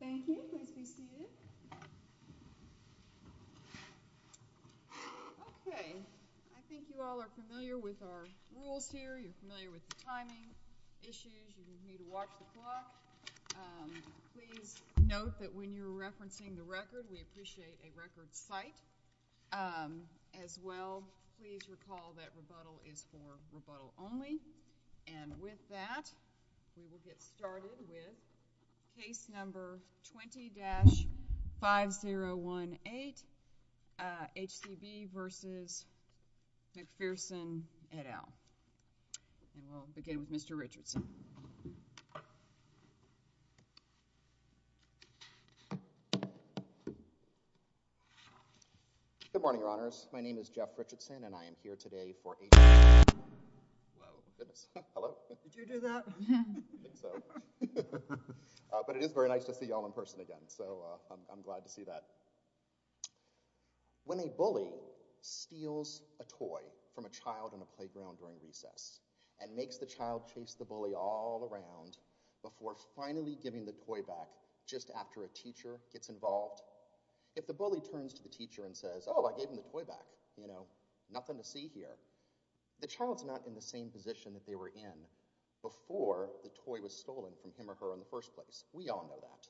Thank you. Nice to see you. Okay. I think you all are familiar with our rules here. You're familiar with the timing issues. You need to watch the clock. Please note that when you're referencing the record, we appreciate a record cite. As well, please recall that rebuttal is for rebuttal only. And with that, we will get started with case number 20-5018, HCB v. McPherson, et al. And we'll begin with Mr. Richardson. Good morning, Your Honors. My name is Jeff Richardson, and I am here today for a— When a bully steals a toy from a child in a playground during recess and makes the child chase the bully all around before finally giving the toy back just after a teacher gets involved, if the bully turns to the teacher and says, oh, I gave him the toy back, you know, nothing to see here, the child's not in the same position that they were in before the toy was stolen from him or her in the first place. We all know that.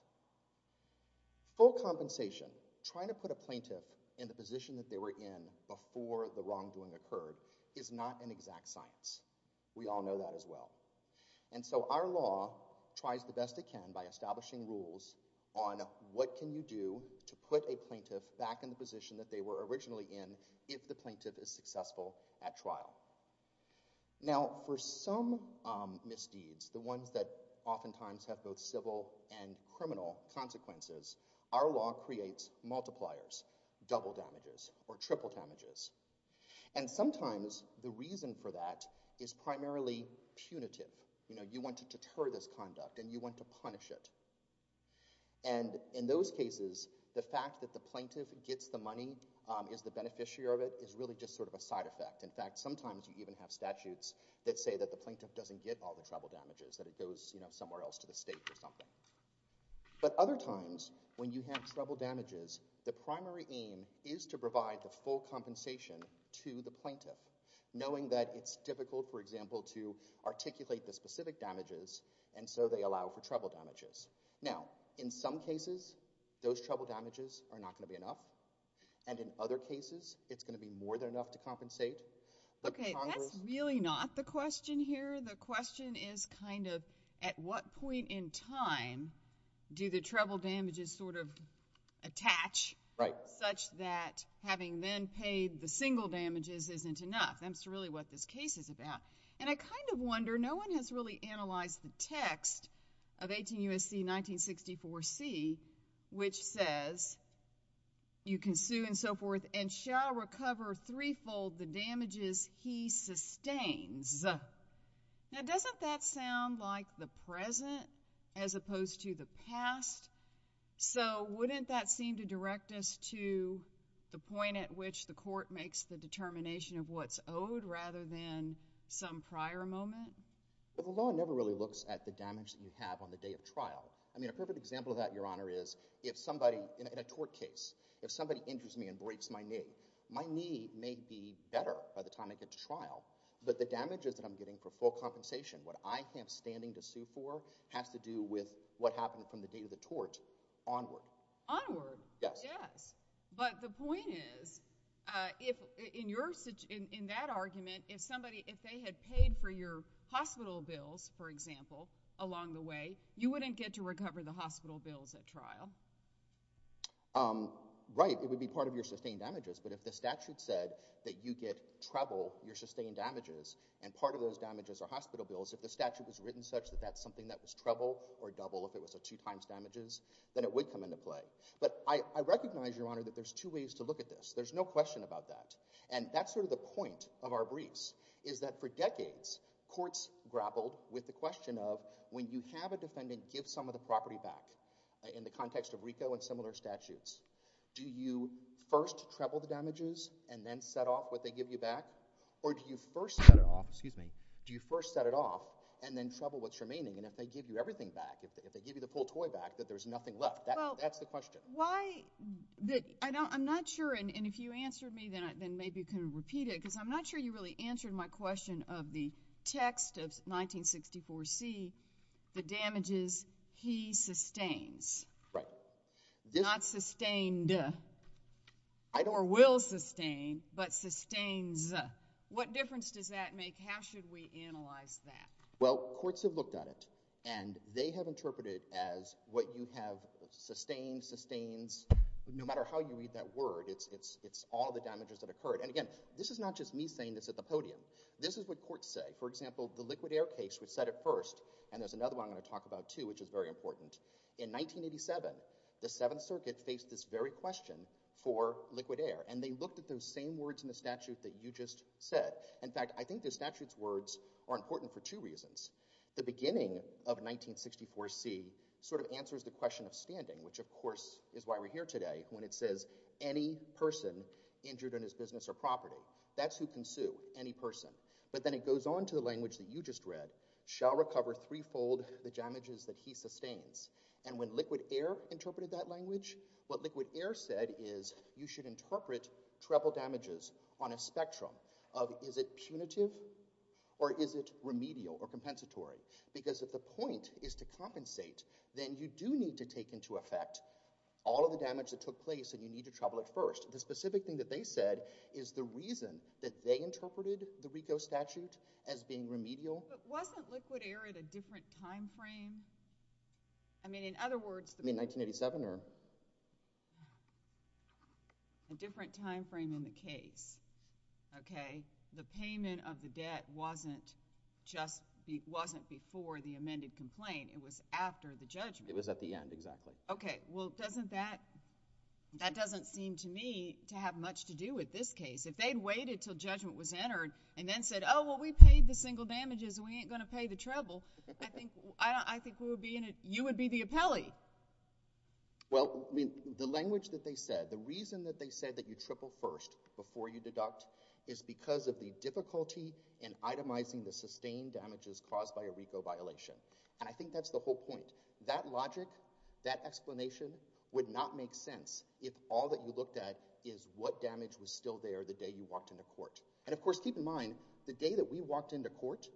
Full compensation, trying to put a plaintiff in the position that they were in before the wrongdoing occurred is not an exact science. We all know that as well. And so our law tries the best it can by establishing rules on what can you do to put a plaintiff back in the position that they were originally in if the plaintiff is successful at trial. Now, for some misdeeds, the ones that oftentimes have both civil and criminal consequences, our law creates multipliers, double damages or triple damages. And sometimes the reason for that is primarily punitive. You know, you want to deter this conduct and you want to punish it. And in those cases, the fact that the plaintiff gets the money, is the beneficiary of it, is really just sort of a side effect. In fact, sometimes you even have statutes that say that the plaintiff doesn't get all the triple damages, that it goes, you know, somewhere else to the state or something. But other times, when you have triple damages, the primary aim is to provide the full compensation to the plaintiff, knowing that it's difficult, for example, to articulate the specific damages and so they allow for triple damages. Now, in some cases, those triple damages are not going to be enough. And in other cases, it's going to be more than enough to compensate. Okay, that's really not the question here. The question is kind of, at what point in time do the triple damages sort of attach such that having then paid the single damages isn't enough? That's really what this case is about. And I kind of wonder, no one has really analyzed the text of 18 U.S.C. 1964C, which says, you can sue and so forth, and shall recover threefold the damages he sustains. Now, doesn't that sound like the present as opposed to the past? So wouldn't that seem to direct us to the point at which the court makes the determination of what's owed rather than some prior moment? The law never really looks at the damage that you have on the day of trial. I mean, a perfect example of that, Your Honor, is if somebody in a tort case, if somebody injures me and breaks my knee, my knee may be better by the time I get to trial, but the damages that I'm getting for full compensation, what I am standing to sue for, has to do with what happened from the day of the tort onward. Onward? Yes. Yes. But the point is, in that argument, if they had paid for your hospital bills, for example, along the way, you wouldn't get to recover the hospital bills at trial. Right. It would be part of your sustained damages, but if the statute said that you get treble, your sustained damages, and part of those damages are hospital bills, if the statute was written such that that's something that was treble or double, if it was a two times damages, then it would come into play. But I recognize, Your Honor, that there's two ways to look at this. There's no question about that, and that's sort of the point of our briefs, is that for decades, courts grappled with the question of, when you have a defendant give some of the property back, in the context of RICO and similar statutes, do you first treble the damages and then set off what they give you back, or do you first set it off and then treble what's remaining? And if they give you everything back, if they give you the full toy back, that there's nothing left. That's the question. I'm not sure, and if you answer me, then maybe you can repeat it, because I'm not sure you really answered my question of the text of 1964C, the damages he sustains. Right. Not sustained, or will sustain, but sustains. What difference does that make? How should we analyze that? Well, courts have looked at it, and they have interpreted it as what you have sustained, sustains. No matter how you read that word, it's all the damages that occurred. And, again, this is not just me saying this at the podium. This is what courts say. For example, the liquid air case was set at first, and there's another one I'm going to talk about, too, which is very important. In 1987, the Seventh Circuit faced this very question for liquid air, and they looked at those same words in the statute that you just said. In fact, I think the statute's words are important for two reasons. The beginning of 1964C sort of answers the question of standing, which, of course, is why we're here today, when it says any person injured in his business or property, that's who can sue, any person. But then it goes on to the language that you just read, shall recover threefold the damages that he sustains. And when liquid air interpreted that language, what liquid air said is you should interpret treble damages on a spectrum of is it punitive or is it remedial or compensatory? Because if the point is to compensate, then you do need to take into effect all of the damage that took place and you need to treble it first. The specific thing that they said is the reason that they interpreted the RICO statute as being remedial. But wasn't liquid air at a different time frame? I mean, in other words, I mean, 1987 or? A different time frame in the case, okay? The payment of the debt wasn't before the amended complaint. It was after the judgment. It was at the end, exactly. Okay. Well, doesn't that, that doesn't seem to me to have much to do with this case. If they'd waited until judgment was entered and then said, oh, well, we paid the single damages and we ain't going to pay the treble, I think we would be in a, you would be the appellee. Well, I mean, the language that they said, the reason that they said that you triple first before you deduct is because of the difficulty in itemizing the sustained damages caused by a RICO violation. And I think that's the whole point. That logic, that explanation would not make sense if all that you looked at is what damage was still there the day you walked into court. And of course, keep in mind, the day that we walked into court,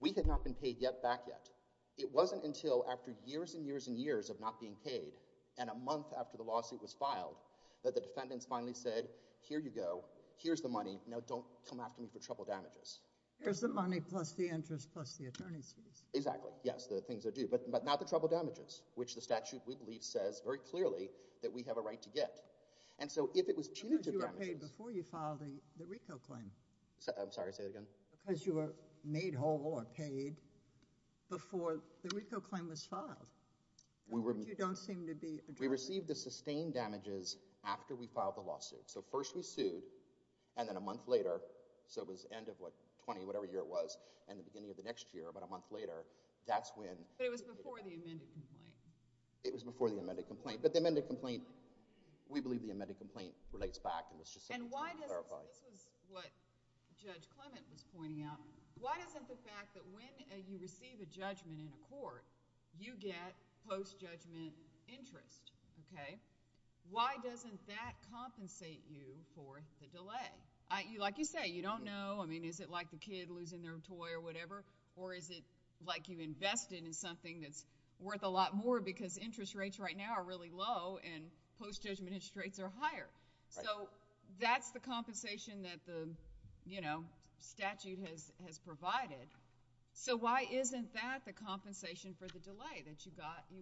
we had not been paid back yet. It wasn't until after years and years and years of not being paid and a month after the lawsuit was filed that the defendants finally said, here you go, here's the money, now don't come after me for treble damages. Here's the money plus the interest plus the attorney's fees. Exactly, yes, the things that are due. But not the treble damages, which the statute, we believe, says very clearly that we have a right to get. And so if it was punitive damages— Because you were paid before you filed the RICO claim. I'm sorry, say that again? Because you were made whole or paid before the RICO claim was filed. You don't seem to be— We received the sustained damages after we filed the lawsuit. So first we sued and then a month later, so it was end of what, 20, whatever year it was, and the beginning of the next year, about a month later, that's when— But it was before the amended complaint. It was before the amended complaint. But the amended complaint, we believe the amended complaint relates back. And this is what Judge Clement was pointing out. Why doesn't the fact that when you receive a judgment in court, you get post-judgment interest, okay? Why doesn't that compensate you for the delay? Like you say, you don't know. I mean, is it like the kid losing their toy or whatever? Or is it like you invested in something that's worth a lot more because interest rates right now are really low and post-judgment interest rates are higher? So that's the compensation that the statute has provided. So why isn't that the compensation for the delay that you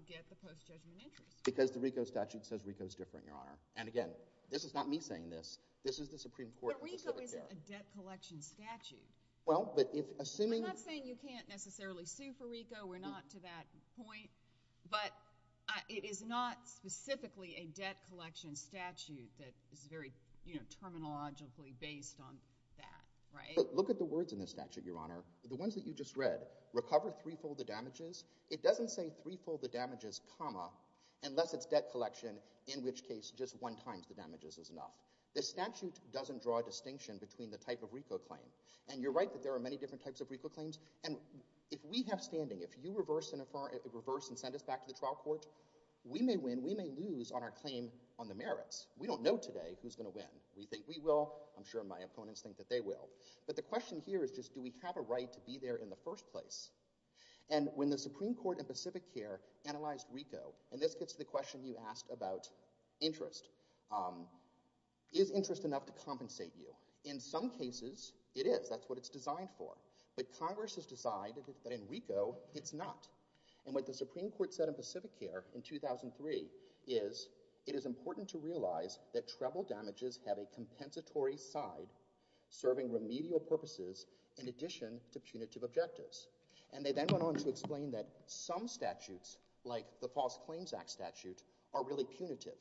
get the post-judgment interest? Because the RICO statute says RICO is different, Your Honor. And again, this is not me saying this. This is the Supreme Court. But RICO isn't a debt collection statute. Well, but if— I'm not saying you can't necessarily sue for RICO. We're not to that point. But it is not specifically a debt collection statute that is very terminologically based on that, right? Look at the words in the statute, Your Honor. The ones that you just read, recovered threefold the damages, it doesn't say threefold the damages, comma, unless it's debt collection, in which case just one times the damages is enough. The statute doesn't draw a distinction between the type of RICO claim. And you're right that there are many different types of RICO claims. And if we have standing, if you reverse and send us back to the trial court, we may win, we may lose on our claim on the merits. We don't know today who's going to win. We think we will. I'm sure my opponents think that they will. But the question here is just do we have a right to be there in the first place? And when the Supreme Court in Pacific Care analyzed RICO, and this gets to the question you asked about interest, is interest enough to compensate you? In some cases, it is. That's what it's designed for. But Congress has decided that in RICO, it's not. And what the Supreme Court said in Pacific Care in 2003 is it is important to realize that treble damages have a compensatory side serving remedial purposes in addition to punitive objectives. And they then went on to explain that some statutes, like the False Claims Act statute, are really punitive.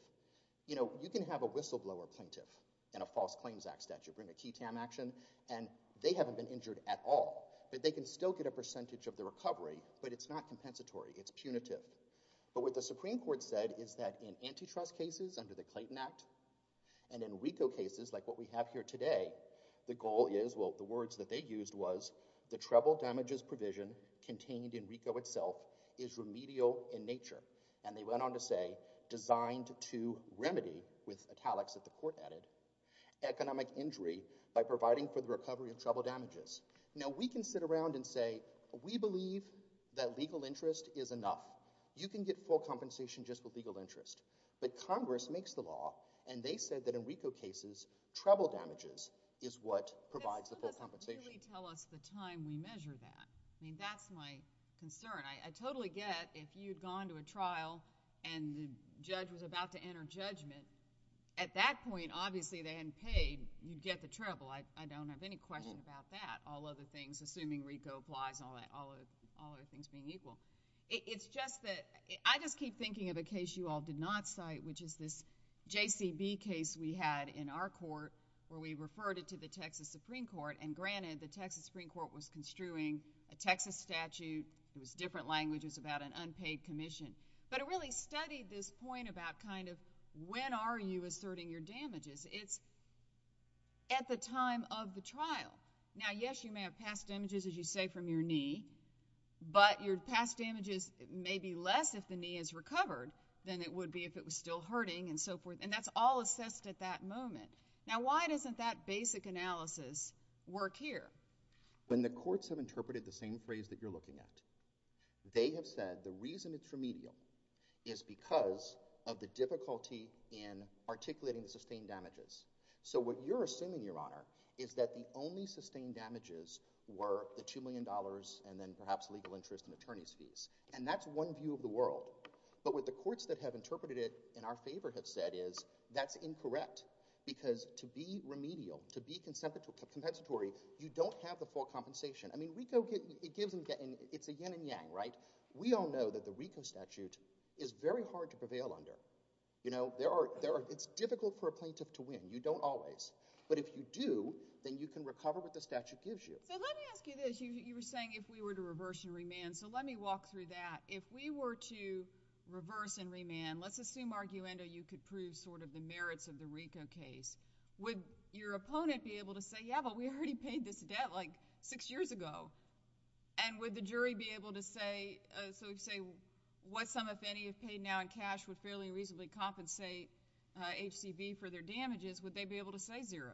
You know, you can have a whistleblower plaintiff in a False Claims Act statute, in a TTAM action, and they haven't been injured at all. But they can still get a percentage of the recovery, but it's not compensatory. It's punitive. But what the Supreme Court said is that in antitrust cases under the Clayton Act and in RICO cases like what we have here today, the goal is, well, the words that they used was the treble damages provision contained in RICO itself is remedial in nature. And they went on to say designed to remedy, with italics that the court added, economic injury by providing for the recovery of treble damages. Now, we can sit around and say we believe that legal interest is enough. You can get full compensation just with legal interest. But Congress makes the law, and they said that in RICO cases, treble damages is what provides the full compensation. They didn't really tell us the time we measure that. I mean, that's my concern. I totally get if you'd gone to a trial and the judge was about to enter judgment, at that point, obviously, they hadn't paid. You'd get the treble. I don't have any question about that, all other things, assuming RICO applies and all other things being equal. It's just that I just keep thinking of a case you all did not cite, which is this JCB case we had in our court where we referred it to the Texas Supreme Court. And granted, the Texas Supreme Court was construing a Texas statute. It was different languages about an unpaid commission. But it really studied this point about kind of when are you asserting your damages. It's at the time of the trial. Now, yes, you may have past damages, as you say, from your knee. But your past damages may be less if the knee is recovered than it would be if it was still hurting and so forth. And that's all assessed at that moment. Now, why doesn't that basic analysis work here? When the courts have interpreted the same phrase that you're looking at, they have said the reason it's remedial is because of the difficulty in articulating sustained damages. So what you're assuming, Your Honor, is that the only sustained damages were the $2 million and then perhaps legal interest and attorney's fees. And that's one view of the world. But what the courts that have interpreted it in our favor have said is that's incorrect because to be remedial, to be compensatory, you don't have the full compensation. I mean, it's a yin and yang, right? We all know that the RICO statute is very hard to prevail under. It's difficult for a plaintiff to win. You don't always. But if you do, then you can recover what the statute gives you. So let me ask you this. You were saying if we were to reverse and remand. So let me walk through that. If we were to reverse and remand, let's assume, arguendo, you could prove sort of the merits of the RICO case, would your opponent be able to say, yeah, but we already paid this debt like six years ago? And would the jury be able to say, so we'd say what sum if any if paid now in cash would fairly reasonably compensate HCV for their damages, would they be able to say zero?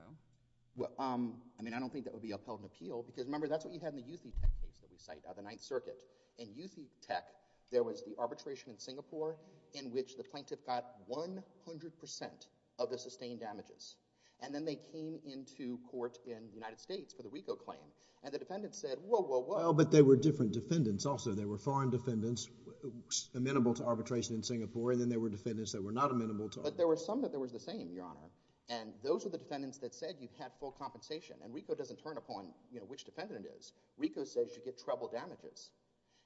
Well, I mean, I don't think that would be upheld in appeal because remember that's what you have in the U.C. Tech case that we cite, In U.C. Tech, there was the arbitration in Singapore in which the plaintiff got 100% of the sustained damages. And then they came into court in the United States for the RICO claim. And the defendant said, whoa, whoa, whoa. Well, but there were different defendants also. There were foreign defendants amenable to arbitration in Singapore, and then there were defendants that were not amenable to arbitration. But there were some that were the same, Your Honor. And those were the defendants that said you've had full compensation. And RICO doesn't turn upon, you know, which defendant it is. RICO says you get treble damages.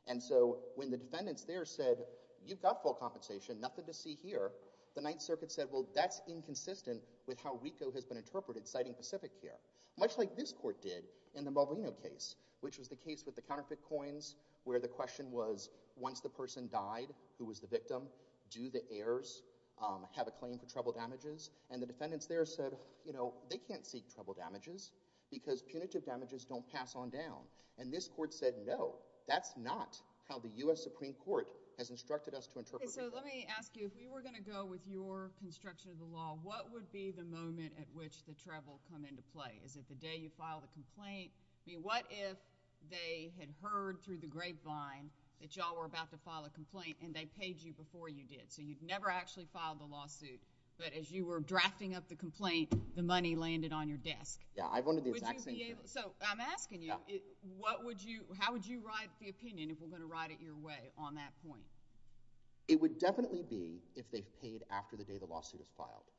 And so when the defendants there said, you've got full compensation, nothing to see here, the Ninth Circuit said, well, that's inconsistent with how RICO has been interpreted citing Pacific here. Much like this court did in the Maldonado case, which was the case with the counterfeit coins where the question was once the person died who was the victim, do the heirs have a claim for treble damages? And the defendants there said, you know, they can't see treble damages because punitive damages don't pass on down. And this court said, no, that's not how the U.S. Supreme Court has instructed us to interpret it. So let me ask you, if you were going to go with your construction of the law, what would be the moment at which the treble come into play? Is it the day you filed a complaint? I mean, what if they had heard through the grapevine that you all were about to file a complaint, and they paid you before you did? So you've never actually filed a lawsuit, but as you were drafting up the complaint, the money landed on your desk. Yeah, I wanted the exact same thing. So I'm asking you, how would you ride the opinion if we're going to ride it your way on that point? It would definitely be if they paid after the day the lawsuit was filed.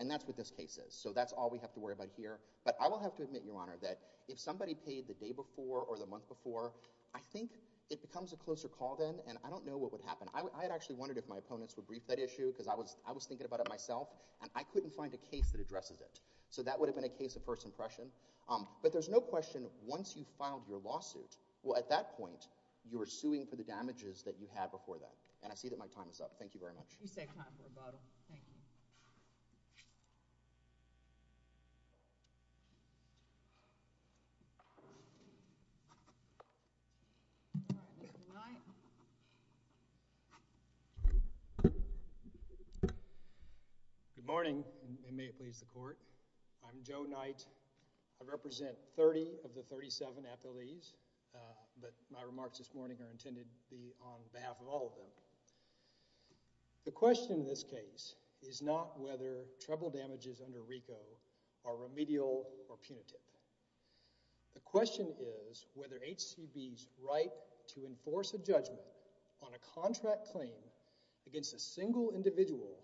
And that's what this case is, so that's all we have to worry about here. But I will have to admit, Your Honor, that if somebody paid the day before or the month before, I think it becomes a closer call then, and I don't know what would happen. I had actually wondered if my opponents would brief that issue because I was thinking about it myself, and I couldn't find a case that addresses it. So that would have been a case of first impression. But there's no question, once you've filed your lawsuit, at that point you're suing for the damages that you had before that. And I see that my time is up. Thank you very much. You saved time for a bottle. Thank you. Mr. Knight. Good morning, and may it please the Court. I'm Joe Knight. I represent 30 of the 37 athletes, but my remarks this morning are intended to be on behalf of all of them. The question in this case is not whether trouble damages under RICO are remedial or punitive. The question is whether HCB's right to enforce a judgment on a contract claim against a single individual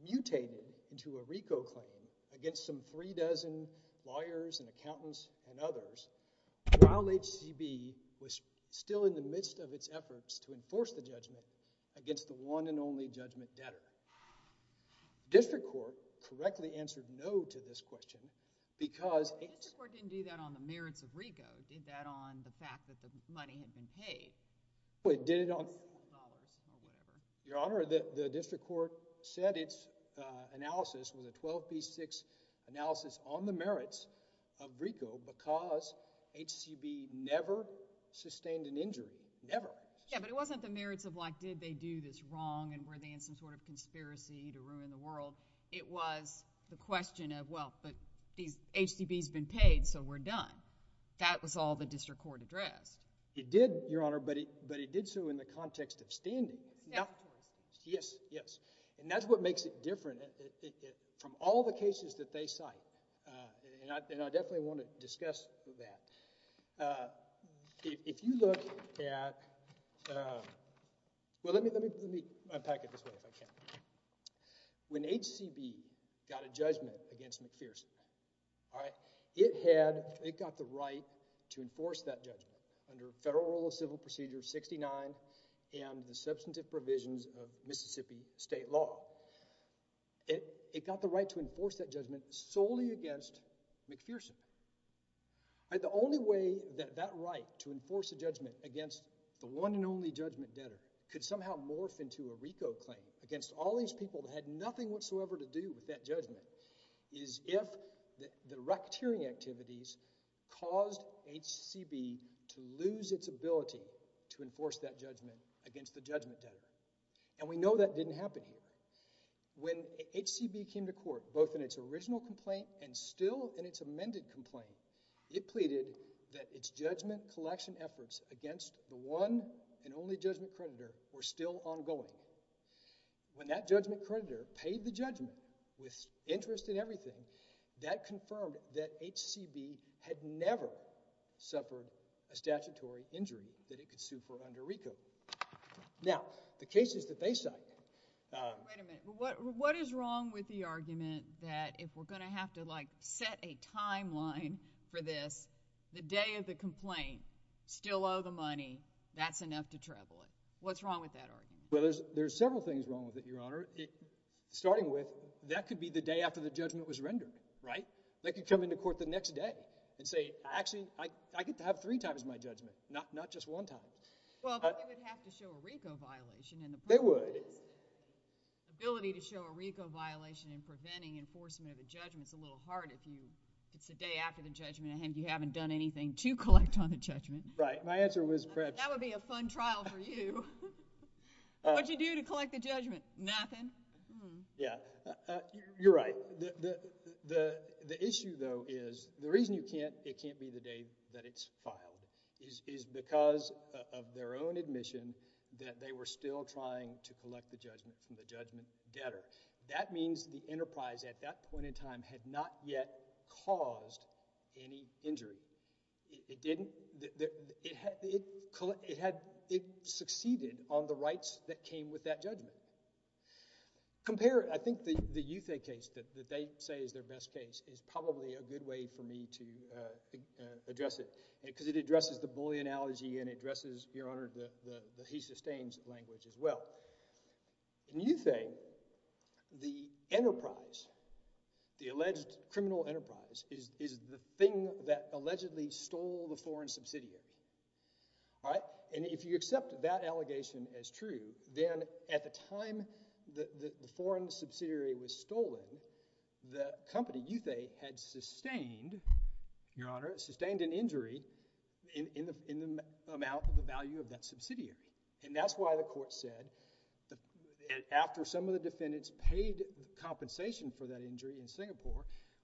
mutated into a RICO claim against some three dozen lawyers and accountants and others, while HCB was still in the midst of its efforts to enforce the judgment against the one and only Judgment Debtor. District Court correctly answered no to this question because— The District Court didn't do that on the merits of RICO. It did that on the fact that the money had been paid. Well, it did it on— Your Honor, the District Court said its analysis, on the merits of RICO because HCB never sustained an injury, never. Yeah, but it wasn't the merits of like did they do this wrong and were they in some sort of conspiracy to ruin the world. It was the question of, well, but HCB's been paid, so we're done. That was all the District Court addressed. It did, Your Honor, but it did so in the context of standing. Yeah. Yes, yes. And that's what makes it different. From all the cases that they cite, and I definitely want to discuss that, if you look at—well, let me unpack it this way if I can. When HCB got a judgment against McPherson, it had—it got the right to enforce that judgment under Federal Rule of Civil Procedure 69 and the substantive provisions of Mississippi state law. It got the right to enforce that judgment solely against McPherson. The only way that that right to enforce a judgment against the one and only judgment debtor could somehow morph into a RICO claim against all these people that had nothing whatsoever to do with that judgment is if the racketeering activities caused HCB to lose its ability to enforce that judgment against the judgment debtor. And we know that didn't happen. When HCB came to court, both in its original complaint and still in its amended complaint, it pleaded that its judgment collection efforts against the one and only judgment creditor were still ongoing. When that judgment creditor paid the judgment with interest in everything, that confirmed that HCB had never suffered a statutory injury that it could sue for under RICO. Now, the cases that they cite— Wait a minute. What is wrong with the argument that if we're going to have to, like, set a timeline for this, the day of the complaint, still owe the money, that's enough to travel it? What's wrong with that argument? Well, there's several things wrong with it, Your Honor. Starting with, that could be the day after the judgment was rendered. Right? They could come into court the next day and say, actually, I get to have three times my judgment, not just one time. Well, but they would have to show a RICO violation. They would. Ability to show a RICO violation in preventing enforcement of a judgment is a little hard if it's the day after the judgment and you haven't done anything to collect on the judgment. Right. My answer was perhaps— That would be a fun trial for you. What would you do to collect the judgment? Nothing. Yeah. You're right. The issue, though, is the reason it can't be the day that it's filed is because of their own admission that they were still trying to collect the judgment from the judgment debtor. That means the enterprise at that point in time had not yet caused any injury. It didn't. It succeeded on the rights that came with that judgment. Compare it. I think the Uthe case that they say is their best case is probably a good way for me to address it because it addresses the bully analogy and it addresses, Your Honor, the he sustains language as well. In Uthe, the enterprise, the alleged criminal enterprise, is the thing that allegedly stole the foreign subsidiary. If you accept that allegation as true, then at the time the foreign subsidiary was stolen, the company, Uthe, had sustained, Your Honor, sustained an injury in the amount of the value of that subsidiary. That's why the court said, When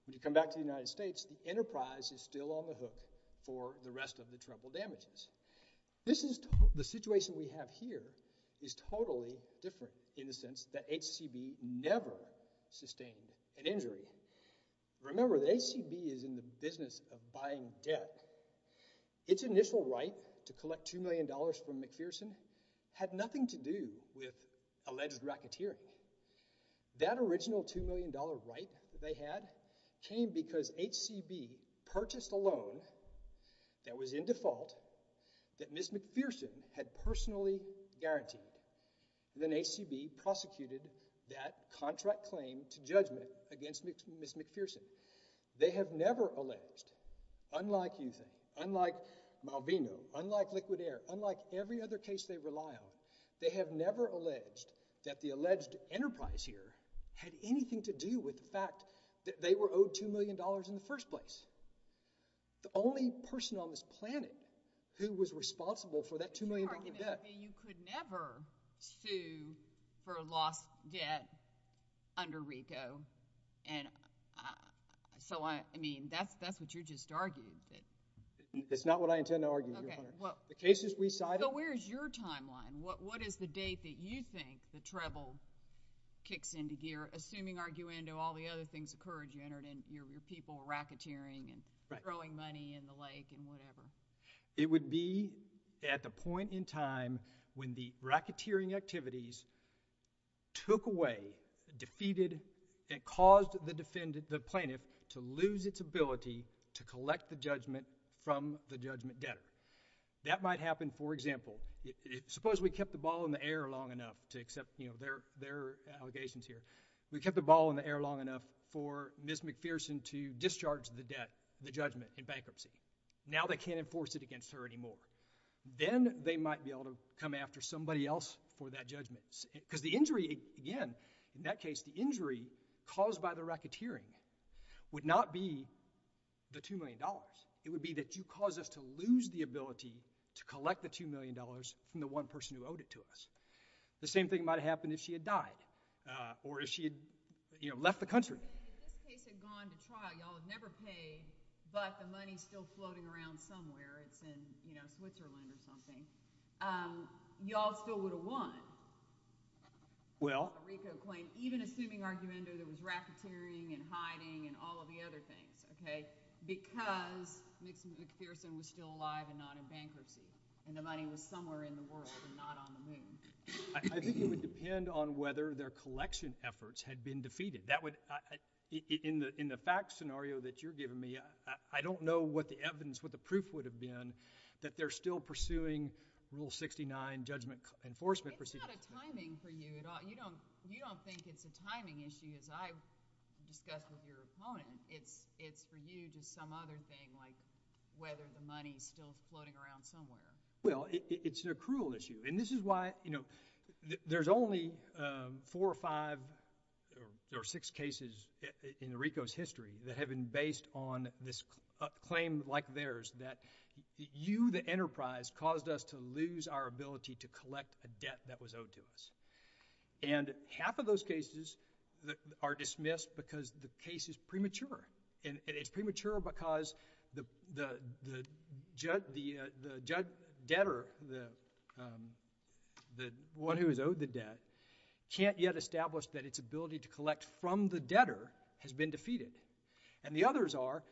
you come back to the United States, the enterprise is still on the hook for the rest of the trouble damages. The situation we have here is totally different in the sense that HCB never sustained an injury. Remember, the HCB is in the business of buying debt. Its initial right to collect $2 million from McPherson had nothing to do with alleged racketeering. That original $2 million right that they had came because HCB purchased a loan that was in default that Ms. McPherson had personally guaranteed. Then HCB prosecuted that contract claim to judgment against Ms. McPherson. They have never alleged, unlike Uthe, unlike Malvino, unlike Liquid Air, unlike every other case they rely on, they have never alleged that the alleged enterprise here had anything to do with the fact that they were owed $2 million in the first place. The only person on this planet who was responsible for that $2 million in debt. You could never sue for lost debt under RICO. And so, I mean, that's what you just argued. That's not what I intend to argue, Your Honor. The case is resided. So where is your timeline? What is the date that you think the treble kicks into gear, assuming, arguendo, all the other things occurred, you entered in, your people were racketeering and throwing money in the lake and whatever? It would be at the point in time when the racketeering activities took away, defeated, and caused the plaintiff to lose its ability to collect the judgment from the judgment debtor. That might happen, for example, suppose we kept the ball in the air long enough to accept their allegations here. We kept the ball in the air long enough for Ms. McPherson to discharge the debt, the judgment in bankruptcy. Now they can't enforce it against her anymore. Then they might be able to come after somebody else for that judgment. Because the injury, again, in that case, the injury caused by the racketeering would not be the $2 million. It would be that you caused us to lose the ability to collect the $2 million from the one person who owed it to us. The same thing might have happened if she had died or if she had left the country. If this case had gone to trial, y'all had never paid, but the money's still floating around somewhere, it's in Switzerland or something, y'all still would have won. Well... Even assuming, arguendo, there was racketeering and hiding and all of the other things, okay, because Ms. McPherson was still alive and not in bankruptcy and the money was somewhere in the world and not on the moon. I think it would depend on whether their collection efforts had been defeated. In the facts scenario that you're giving me, I don't know what the evidence, what the proof would have been that they're still pursuing Rule 69 judgment enforcement procedure. It's not a timing for you at all. You don't think it's a timing issue, as I've discussed with your opponent. It's for you to some other thing, like whether the money's still floating around somewhere. Well, it's an accrual issue. And this is why, you know, there's only four or five or six cases in the RICO's history that have been based on this claim like theirs that you, the enterprise, caused us to lose our ability to collect a debt that was owed to us. And half of those cases are dismissed because the case is premature. And it's premature because the debtor, the one who is owed the debt, can't yet establish that its ability to collect from the debtor has been defeated. And the others are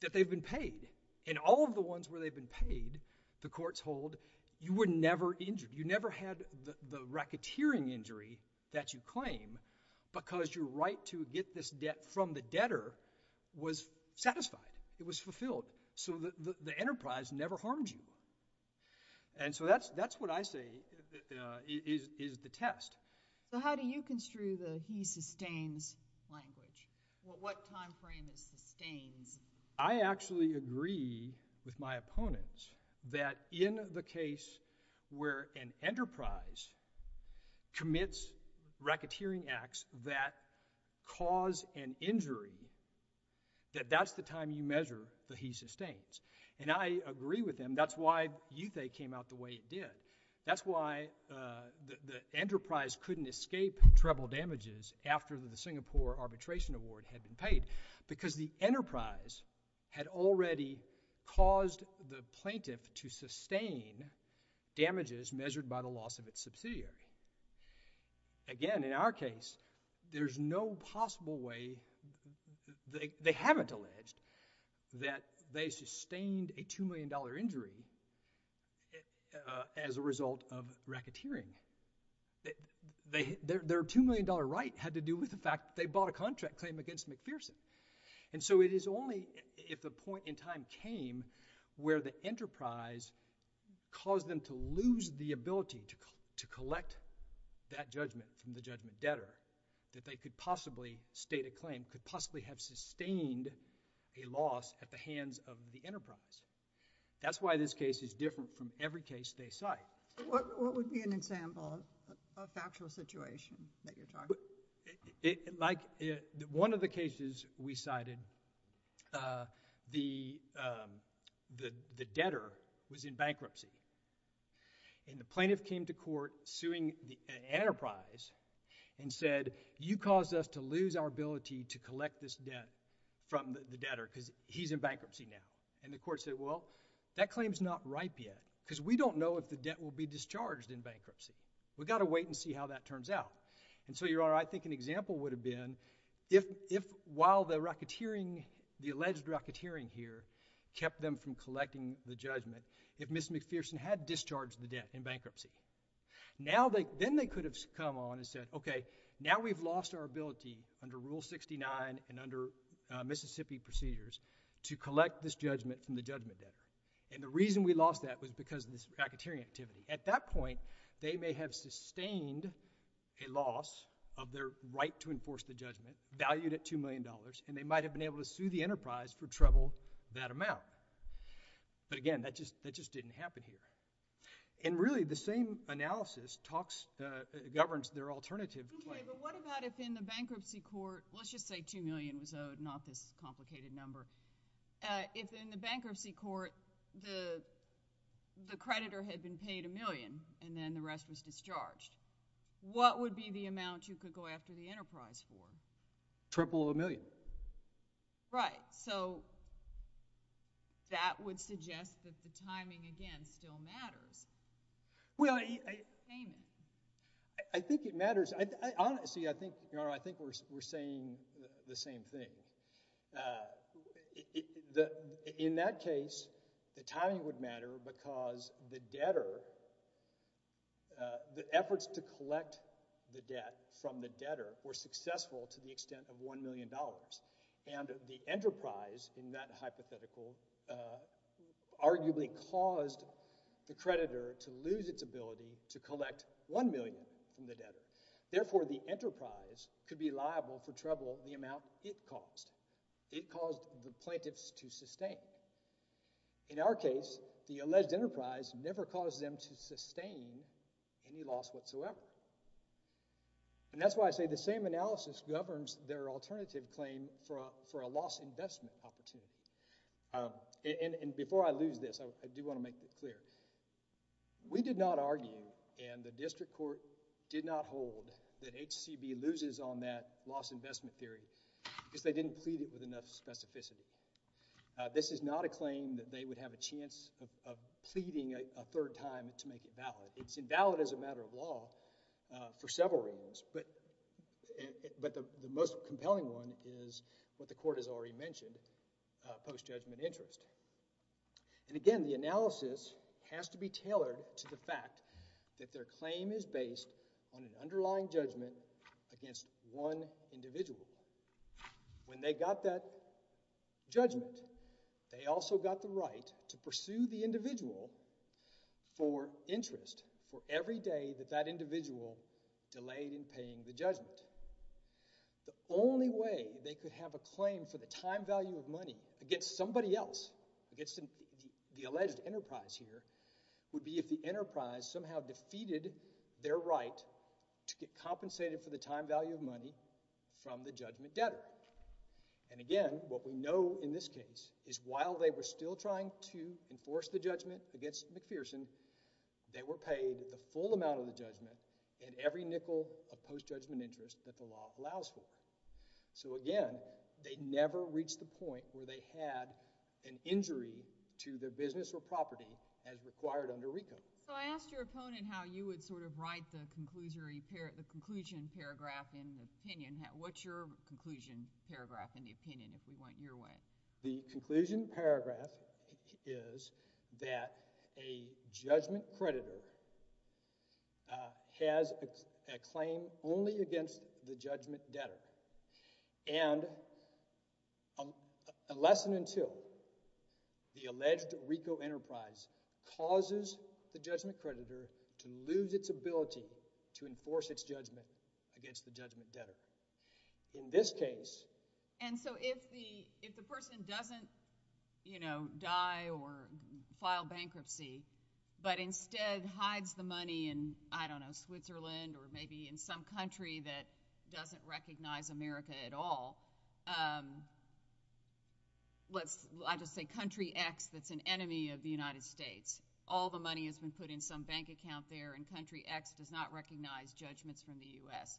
that they've been paid. And all of the ones where they've been paid, the courts hold, you were never injured. You never had the racketeering injury that you claim because your right to get this debt from the debtor was satisfied. It was fulfilled. So the enterprise never harmed you. And so that's what I say is the test. So how do you construe the he sustains language? What time frame is sustains? I actually agree with my opponents that in the case where an enterprise commits racketeering acts that cause an injury, that that's the time you measure the he sustains. And I agree with them. That's why you think it came out the way it did. That's why the enterprise couldn't escape treble damages after the Singapore Arbitration Award had been paid because the enterprise had already caused the plaintiff to sustain damages measured by the loss of its subsidiary. Again, in our case, there's no possible way. They haven't alleged that they sustained a $2 million injury as a result of racketeering. Their $2 million right had to do with the fact that they bought a contract claim against McPherson. And so it is only if the point in time came where the enterprise caused them to lose the ability to collect that judgment from the judgment debtor that they could possibly state a claim, could possibly have sustained a loss at the hands of the enterprise. That's why this case is different from every case they cite. What would be an example of the actual situation that you're talking about? Like one of the cases we cited, the debtor was in bankruptcy. And the plaintiff came to court suing the enterprise and said, you caused us to lose our ability to collect this debt from the debtor because he's in bankruptcy now. And the court said, well, that claim is not ripe yet because we don't know if the debt will be discharged in bankruptcy. We've got to wait and see how that turns out. And so I think an example would have been if while the alleged racketeering here kept them from collecting the judgment, if Ms. McPherson had discharged the debt in bankruptcy, then they could have come on and said, okay, now we've lost our ability under Rule 69 and under Mississippi procedures to collect this judgment from the judgment debtor. And the reason we lost that was because of this racketeering activity. At that point, they may have sustained a loss of their right to enforce the judgment, valued at $2 million, and they might have been able to sue the enterprise for trouble that amount. But again, that just didn't happen here. And really, the same analysis governs their alternative claim. Okay, but what about if in the bankruptcy court, let's just say $2 million was owed, not this complicated number. If in the bankruptcy court, the creditor had been paid $1 million and then the rest was discharged, what would be the amount you could go after the enterprise for? Triple of $1 million. Right. So that would suggest that the timing, again, still matters. Well, I think it matters. Honestly, I think we're saying the same thing. In that case, the timing would matter because the debtor, the efforts to collect the debt from the debtor were successful to the extent of $1 million. And the enterprise in that hypothetical arguably caused the creditor to lose its ability to collect $1 million from the debtor. Therefore, the enterprise could be liable for trouble the amount it caused. It caused the plaintiffs to sustain. In our case, the alleged enterprise never caused them to sustain any loss whatsoever. And that's why I say the same analysis governs their alternative claim for a loss investment opportunity. And before I lose this, I do want to make it clear. We did not argue and the district court did not hold that HCB loses on that loss investment theory because they didn't plead it with enough specificity. This is not a claim that they would have a chance of pleading a third time to make it valid. It's invalid as a matter of law for several reasons, but the most compelling one is what the court has already mentioned, post-judgment interest. And again, the analysis has to be tailored to the fact that their claim is based on an underlying judgment against one individual. When they got that judgment, they also got the right to pursue the individual for interest for every day that that individual delayed in paying the judgment. The only way they could have a claim for the time value of money against somebody else, against the alleged enterprise here, would be if the enterprise somehow defeated their right to get compensated for the time value of money from the judgment debtor. And again, what we know in this case is while they were still trying to enforce the judgment against McPherson, they were paid the full amount of the judgment and every nickel of post-judgment interest that the law allows for. So again, they never reached the point where they had an injury to their business or property as required under RICO. So I asked your opponent how you would sort of write the conclusion paragraph in the opinion. What's your conclusion paragraph in the opinion, if we went your way? The conclusion paragraph is that a judgment creditor has a claim only against the judgment debtor. And unless and until the alleged RICO enterprise causes the judgment creditor to lose its ability to enforce its judgment against the judgment debtor. In this case... And so if the person doesn't, you know, die or file bankruptcy, but instead hides the money in, I don't know, Switzerland or maybe in some country that doesn't recognize America at all. I'll just say country X that's an enemy of the United States. All the money has been put in some bank account there and country X does not recognize judgments from the U.S.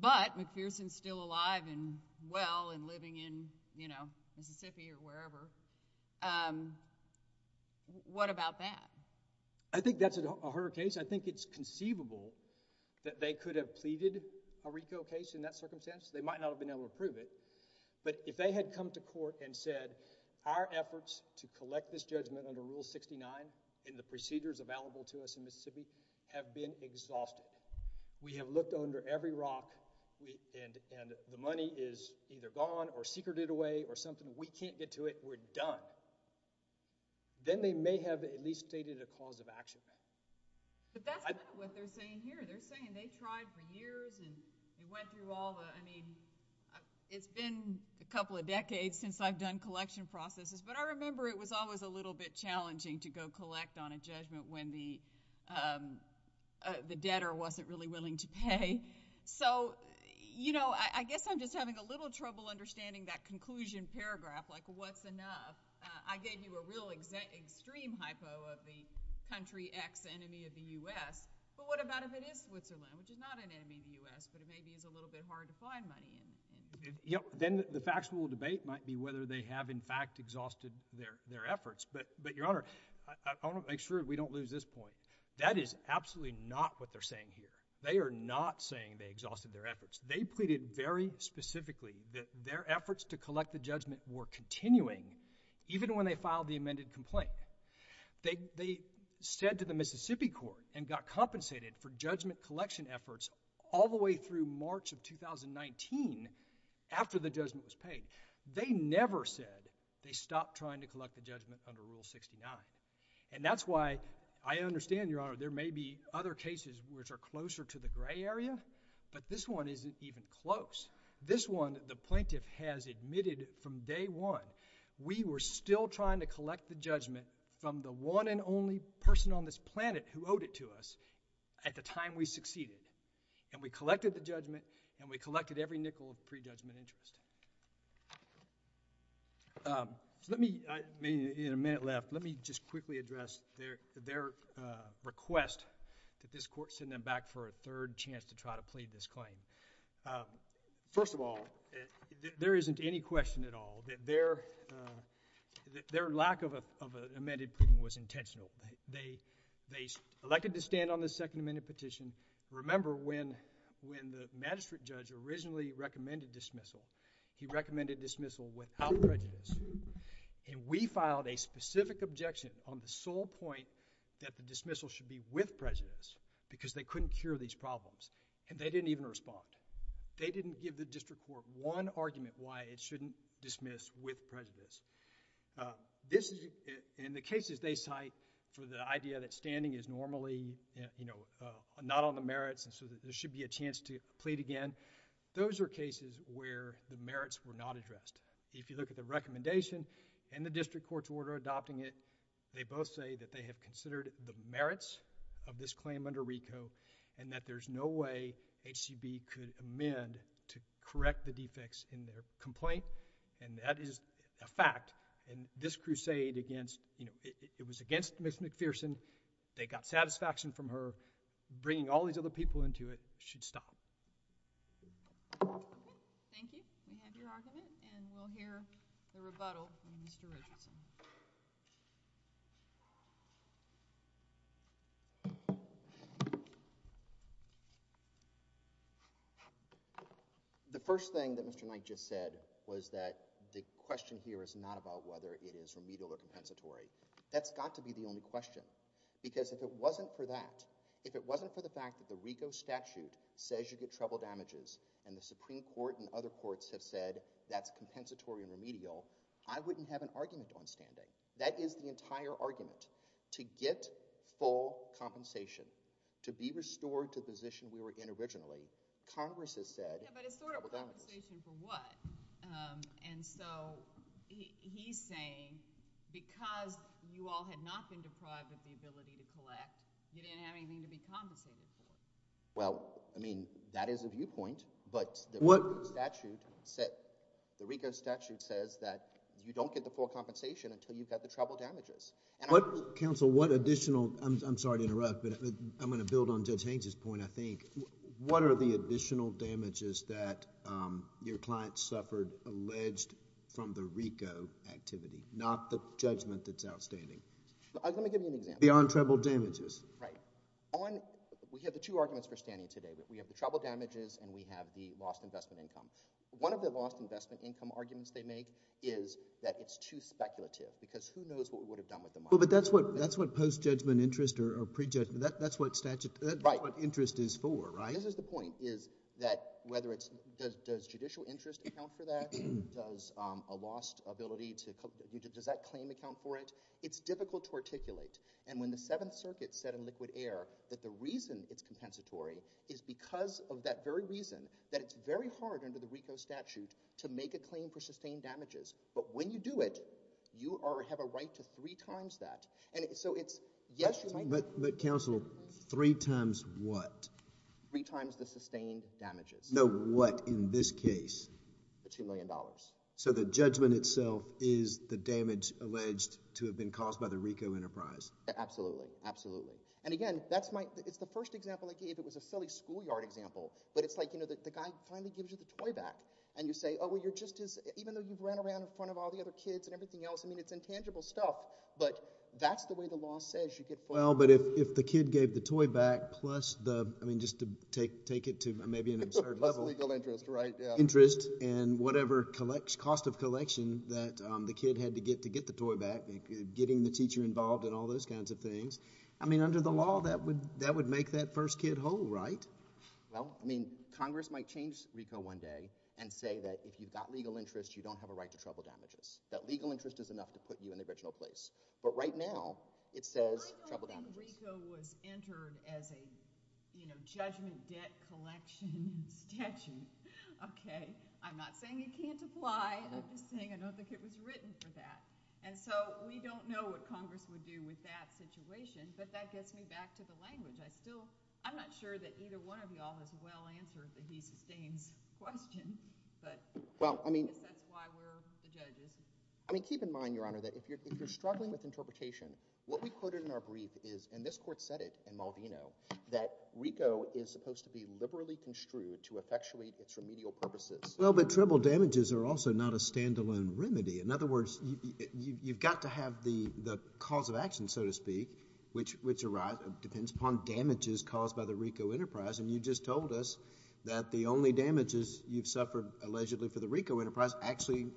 But McPherson's still alive and well and living in, you know, What about that? I think that's a harder case. I think it's conceivable that they could have pleaded a RICO case in that circumstance. They might not have been able to prove it. But if they had come to court and said, our efforts to collect this judgment under Rule 69 and the procedures available to us in Mississippi have been exhaustive. We have looked under every rock and the money is either gone or secreted away or something. We can't get to it. We're done. Then they may have at least stated a cause of action. But that's not what they're saying here. They're saying they tried for years and went through all the, I mean, it's been a couple of decades since I've done collection processes, but I remember it was always a little bit challenging to go collect on a judgment when the debtor wasn't really willing to pay. So, you know, I guess I'm just having a little trouble understanding that conclusion paragraph, like what's enough. I gave you a real extreme hypo of the country ex-enemy of the U.S., but what about if it is Switzerland, which is not an enemy of the U.S., but it maybe is a little bit hard to find money in? Then the factual debate might be whether they have, in fact, exhausted their efforts. But, Your Honor, I want to make sure we don't lose this point. That is absolutely not what they're saying here. They are not saying they exhausted their efforts. They pleaded very specifically that their efforts to collect the judgment were continuing even when they filed the amended complaint. They said to the Mississippi court and got compensated for judgment collection efforts all the way through March of 2019 after the judgment was paid. They never said they stopped trying to collect the judgment under Rule 69. And that's why I understand, Your Honor, there may be other cases which are closer to the gray area, but this one isn't even close. This one, the plaintiff has admitted from day one, we were still trying to collect the judgment from the one and only person on this planet who owed it to us at the time we succeeded. And we collected the judgment, and we collected every nickel of pre-judgment interest. In a minute left, let me just quickly address their request that this court send them back for a third chance to try to plead this claim. First of all, there isn't any question at all that their lack of amended prudent was intentional. They elected to stand on this second amended petition. Remember when the magistrate judge originally recommended dismissal, he recommended dismissal without prejudice. And we filed a specific objection on the sole point that the dismissal should be with prejudice because they couldn't cure these problems. And they didn't even respond. They didn't give the district court one argument why it shouldn't dismiss with prejudice. In the cases they cite for the idea that standing is normally not on the merits and so there should be a chance to plead again, those are cases where the merits were not addressed. If you look at the recommendation and the district court's order adopting it, they both say that they have considered the merits of this claim under RICO and that there's no way HCB could amend to correct the defects in their complaint and that is a fact. And this crusade against, you know, it was against Ms. McPherson, they got satisfaction from her, bringing all these other people into it should stop. Thank you. We have your argument and we'll hear the rebuttal from Ms. McPherson. The first thing that Mr. Knight just said was that the question here is not about whether it is remedial or compensatory. That's got to be the only question because if it wasn't for that, if it wasn't for the fact that the RICO statute says you get trouble damages and the Supreme Court and other courts have said that's compensatory and remedial, I wouldn't have an argument on standing. That is the entire argument, to get full compensation, to be restored to the position we were in originally. Congress has said we're done. But it's sort of compensation for what? And so he's saying because you all had not been deprived of the ability to collect, you didn't have anything to be compensated for. Well, I mean, that is a viewpoint, but the RICO statute says that you don't get the full compensation until you've got the trouble damages. And I... Counsel, what additional... I'm sorry to interrupt, but I'm going to build on Judge Hanks' point, I think. What are the additional damages that your client suffered alleged from the RICO activity, not the judgment that's outstanding? Let me give you an example. Beyond trouble damages. Right. We have the two arguments for standing today. We have the trouble damages and we have the lost investment income. One of the lost investment income arguments they make is that it's too speculative because who knows what we would have done with the money. Well, but that's what post-judgment interest or pre-judgment, that's what interest is for, right? This is the point, is that whether it's – does judicial interest account for that? Does a lost ability to – does that claim account for it? It's difficult to articulate. And when the Seventh Circuit said in liquid air that the reason it's compensatory is because of that very reason that it's very hard under the RICO statute to make a claim for sustained damages. But when you do it, you have a right to three times that. And so it's – yes. But counsel, three times what? Three times the sustained damages. The what in this case? The $2 million. So the judgment itself is the damage alleged to have been caused by the RICO enterprise? Absolutely, absolutely. And, again, that's my – it's the first example I gave. It was a silly schoolyard example. But it's like, you know, the guy finally gives you the toy back. And you say, oh, well, you're just as – even though you ran around in front of all the other kids and everything else, I mean, it's intangible stuff. But that's the way the law says you get – Well, but if the kid gave the toy back plus the – I mean, just to take it to maybe an absurd level. That's legal interest, right? Interest and whatever cost of collection that the kid had to get to get the toy back, getting the teacher involved and all those kinds of things. I mean, under the law, that would make that first kid whole, right? Well, I mean, Congress might change RICO one day and say that if you've got legal interest, you don't have a right to trouble damages, that legal interest is enough to put you in a virtual place. But right now it says trouble damages. I don't think RICO was entered as a, you know, judgment debt collection statute, okay? I'm not saying you can't apply. I'm just saying I don't think it was written for that. And so we don't know what Congress would do with that situation, but that gets me back to the language. I still – I'm not sure that either one of you all has well answered the he sustains question, but – Well, I mean – That's why we're the judges. I mean, keep in mind, Your Honor, that if you're struggling with interpretation, what we quoted in our brief is, and this court said it in Maldino, that RICO is supposed to be liberally construed to effectuate its remedial purposes. Well, but trouble damages are also not a standalone remedy. In other words, you've got to have the cause of action, so to speak, which depends upon damages caused by the RICO enterprise, and you just told us that the only damages you've suffered allegedly for the RICO enterprise actually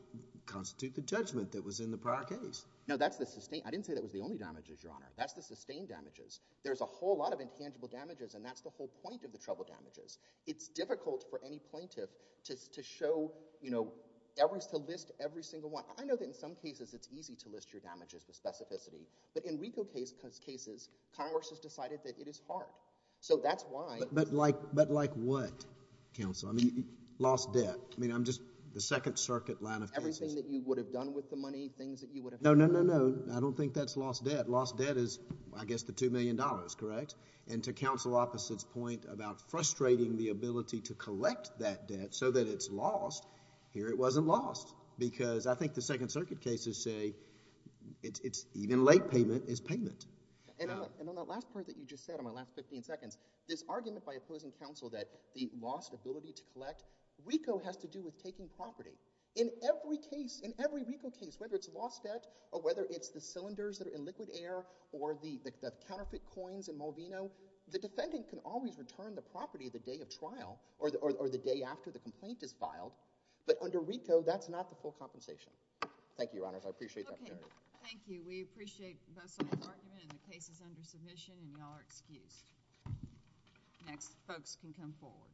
constitute the judgment that was in the prior case. No, that's the – I didn't say that was the only damages, Your Honor. That's the sustained damages. There's a whole lot of intangible damages, and that's the whole point of the trouble damages. It's difficult for any plaintiff to show, you know, to list every single one. I know that in some cases it's easy to list your damages with specificity, but in RICO cases, Congress has decided that it is hard. So that's why – But like what, counsel? I mean, lost debt. I mean, I'm just – the Second Circuit line of – Everything that you would have done with the money, things that you would have – No, no, no, no. I don't think that's lost debt. Lost debt is, I guess, the $2 million, correct? And to counsel Opposite's point about frustrating the ability to collect that debt so that it's lost, here it wasn't lost because I think the Second Circuit cases say it's – even late payment is payment. And on that last point that you just said, on my last 15 seconds, this argument by opposing counsel that the lost ability to collect, RICO has to do with taking property. In every case, in every RICO case, whether it's lost debt or whether it's the cylinders that are in liquid air or the counterfeit coins in Molvino, the defendant can always return the property the day of trial or the day after the complaint is filed. But under RICO, that's not the full compensation. Thank you, Your Honors. I appreciate that. Okay. Thank you. We appreciate Russell and Martin and the cases under submission. And y'all are excused. Next, folks can come forward.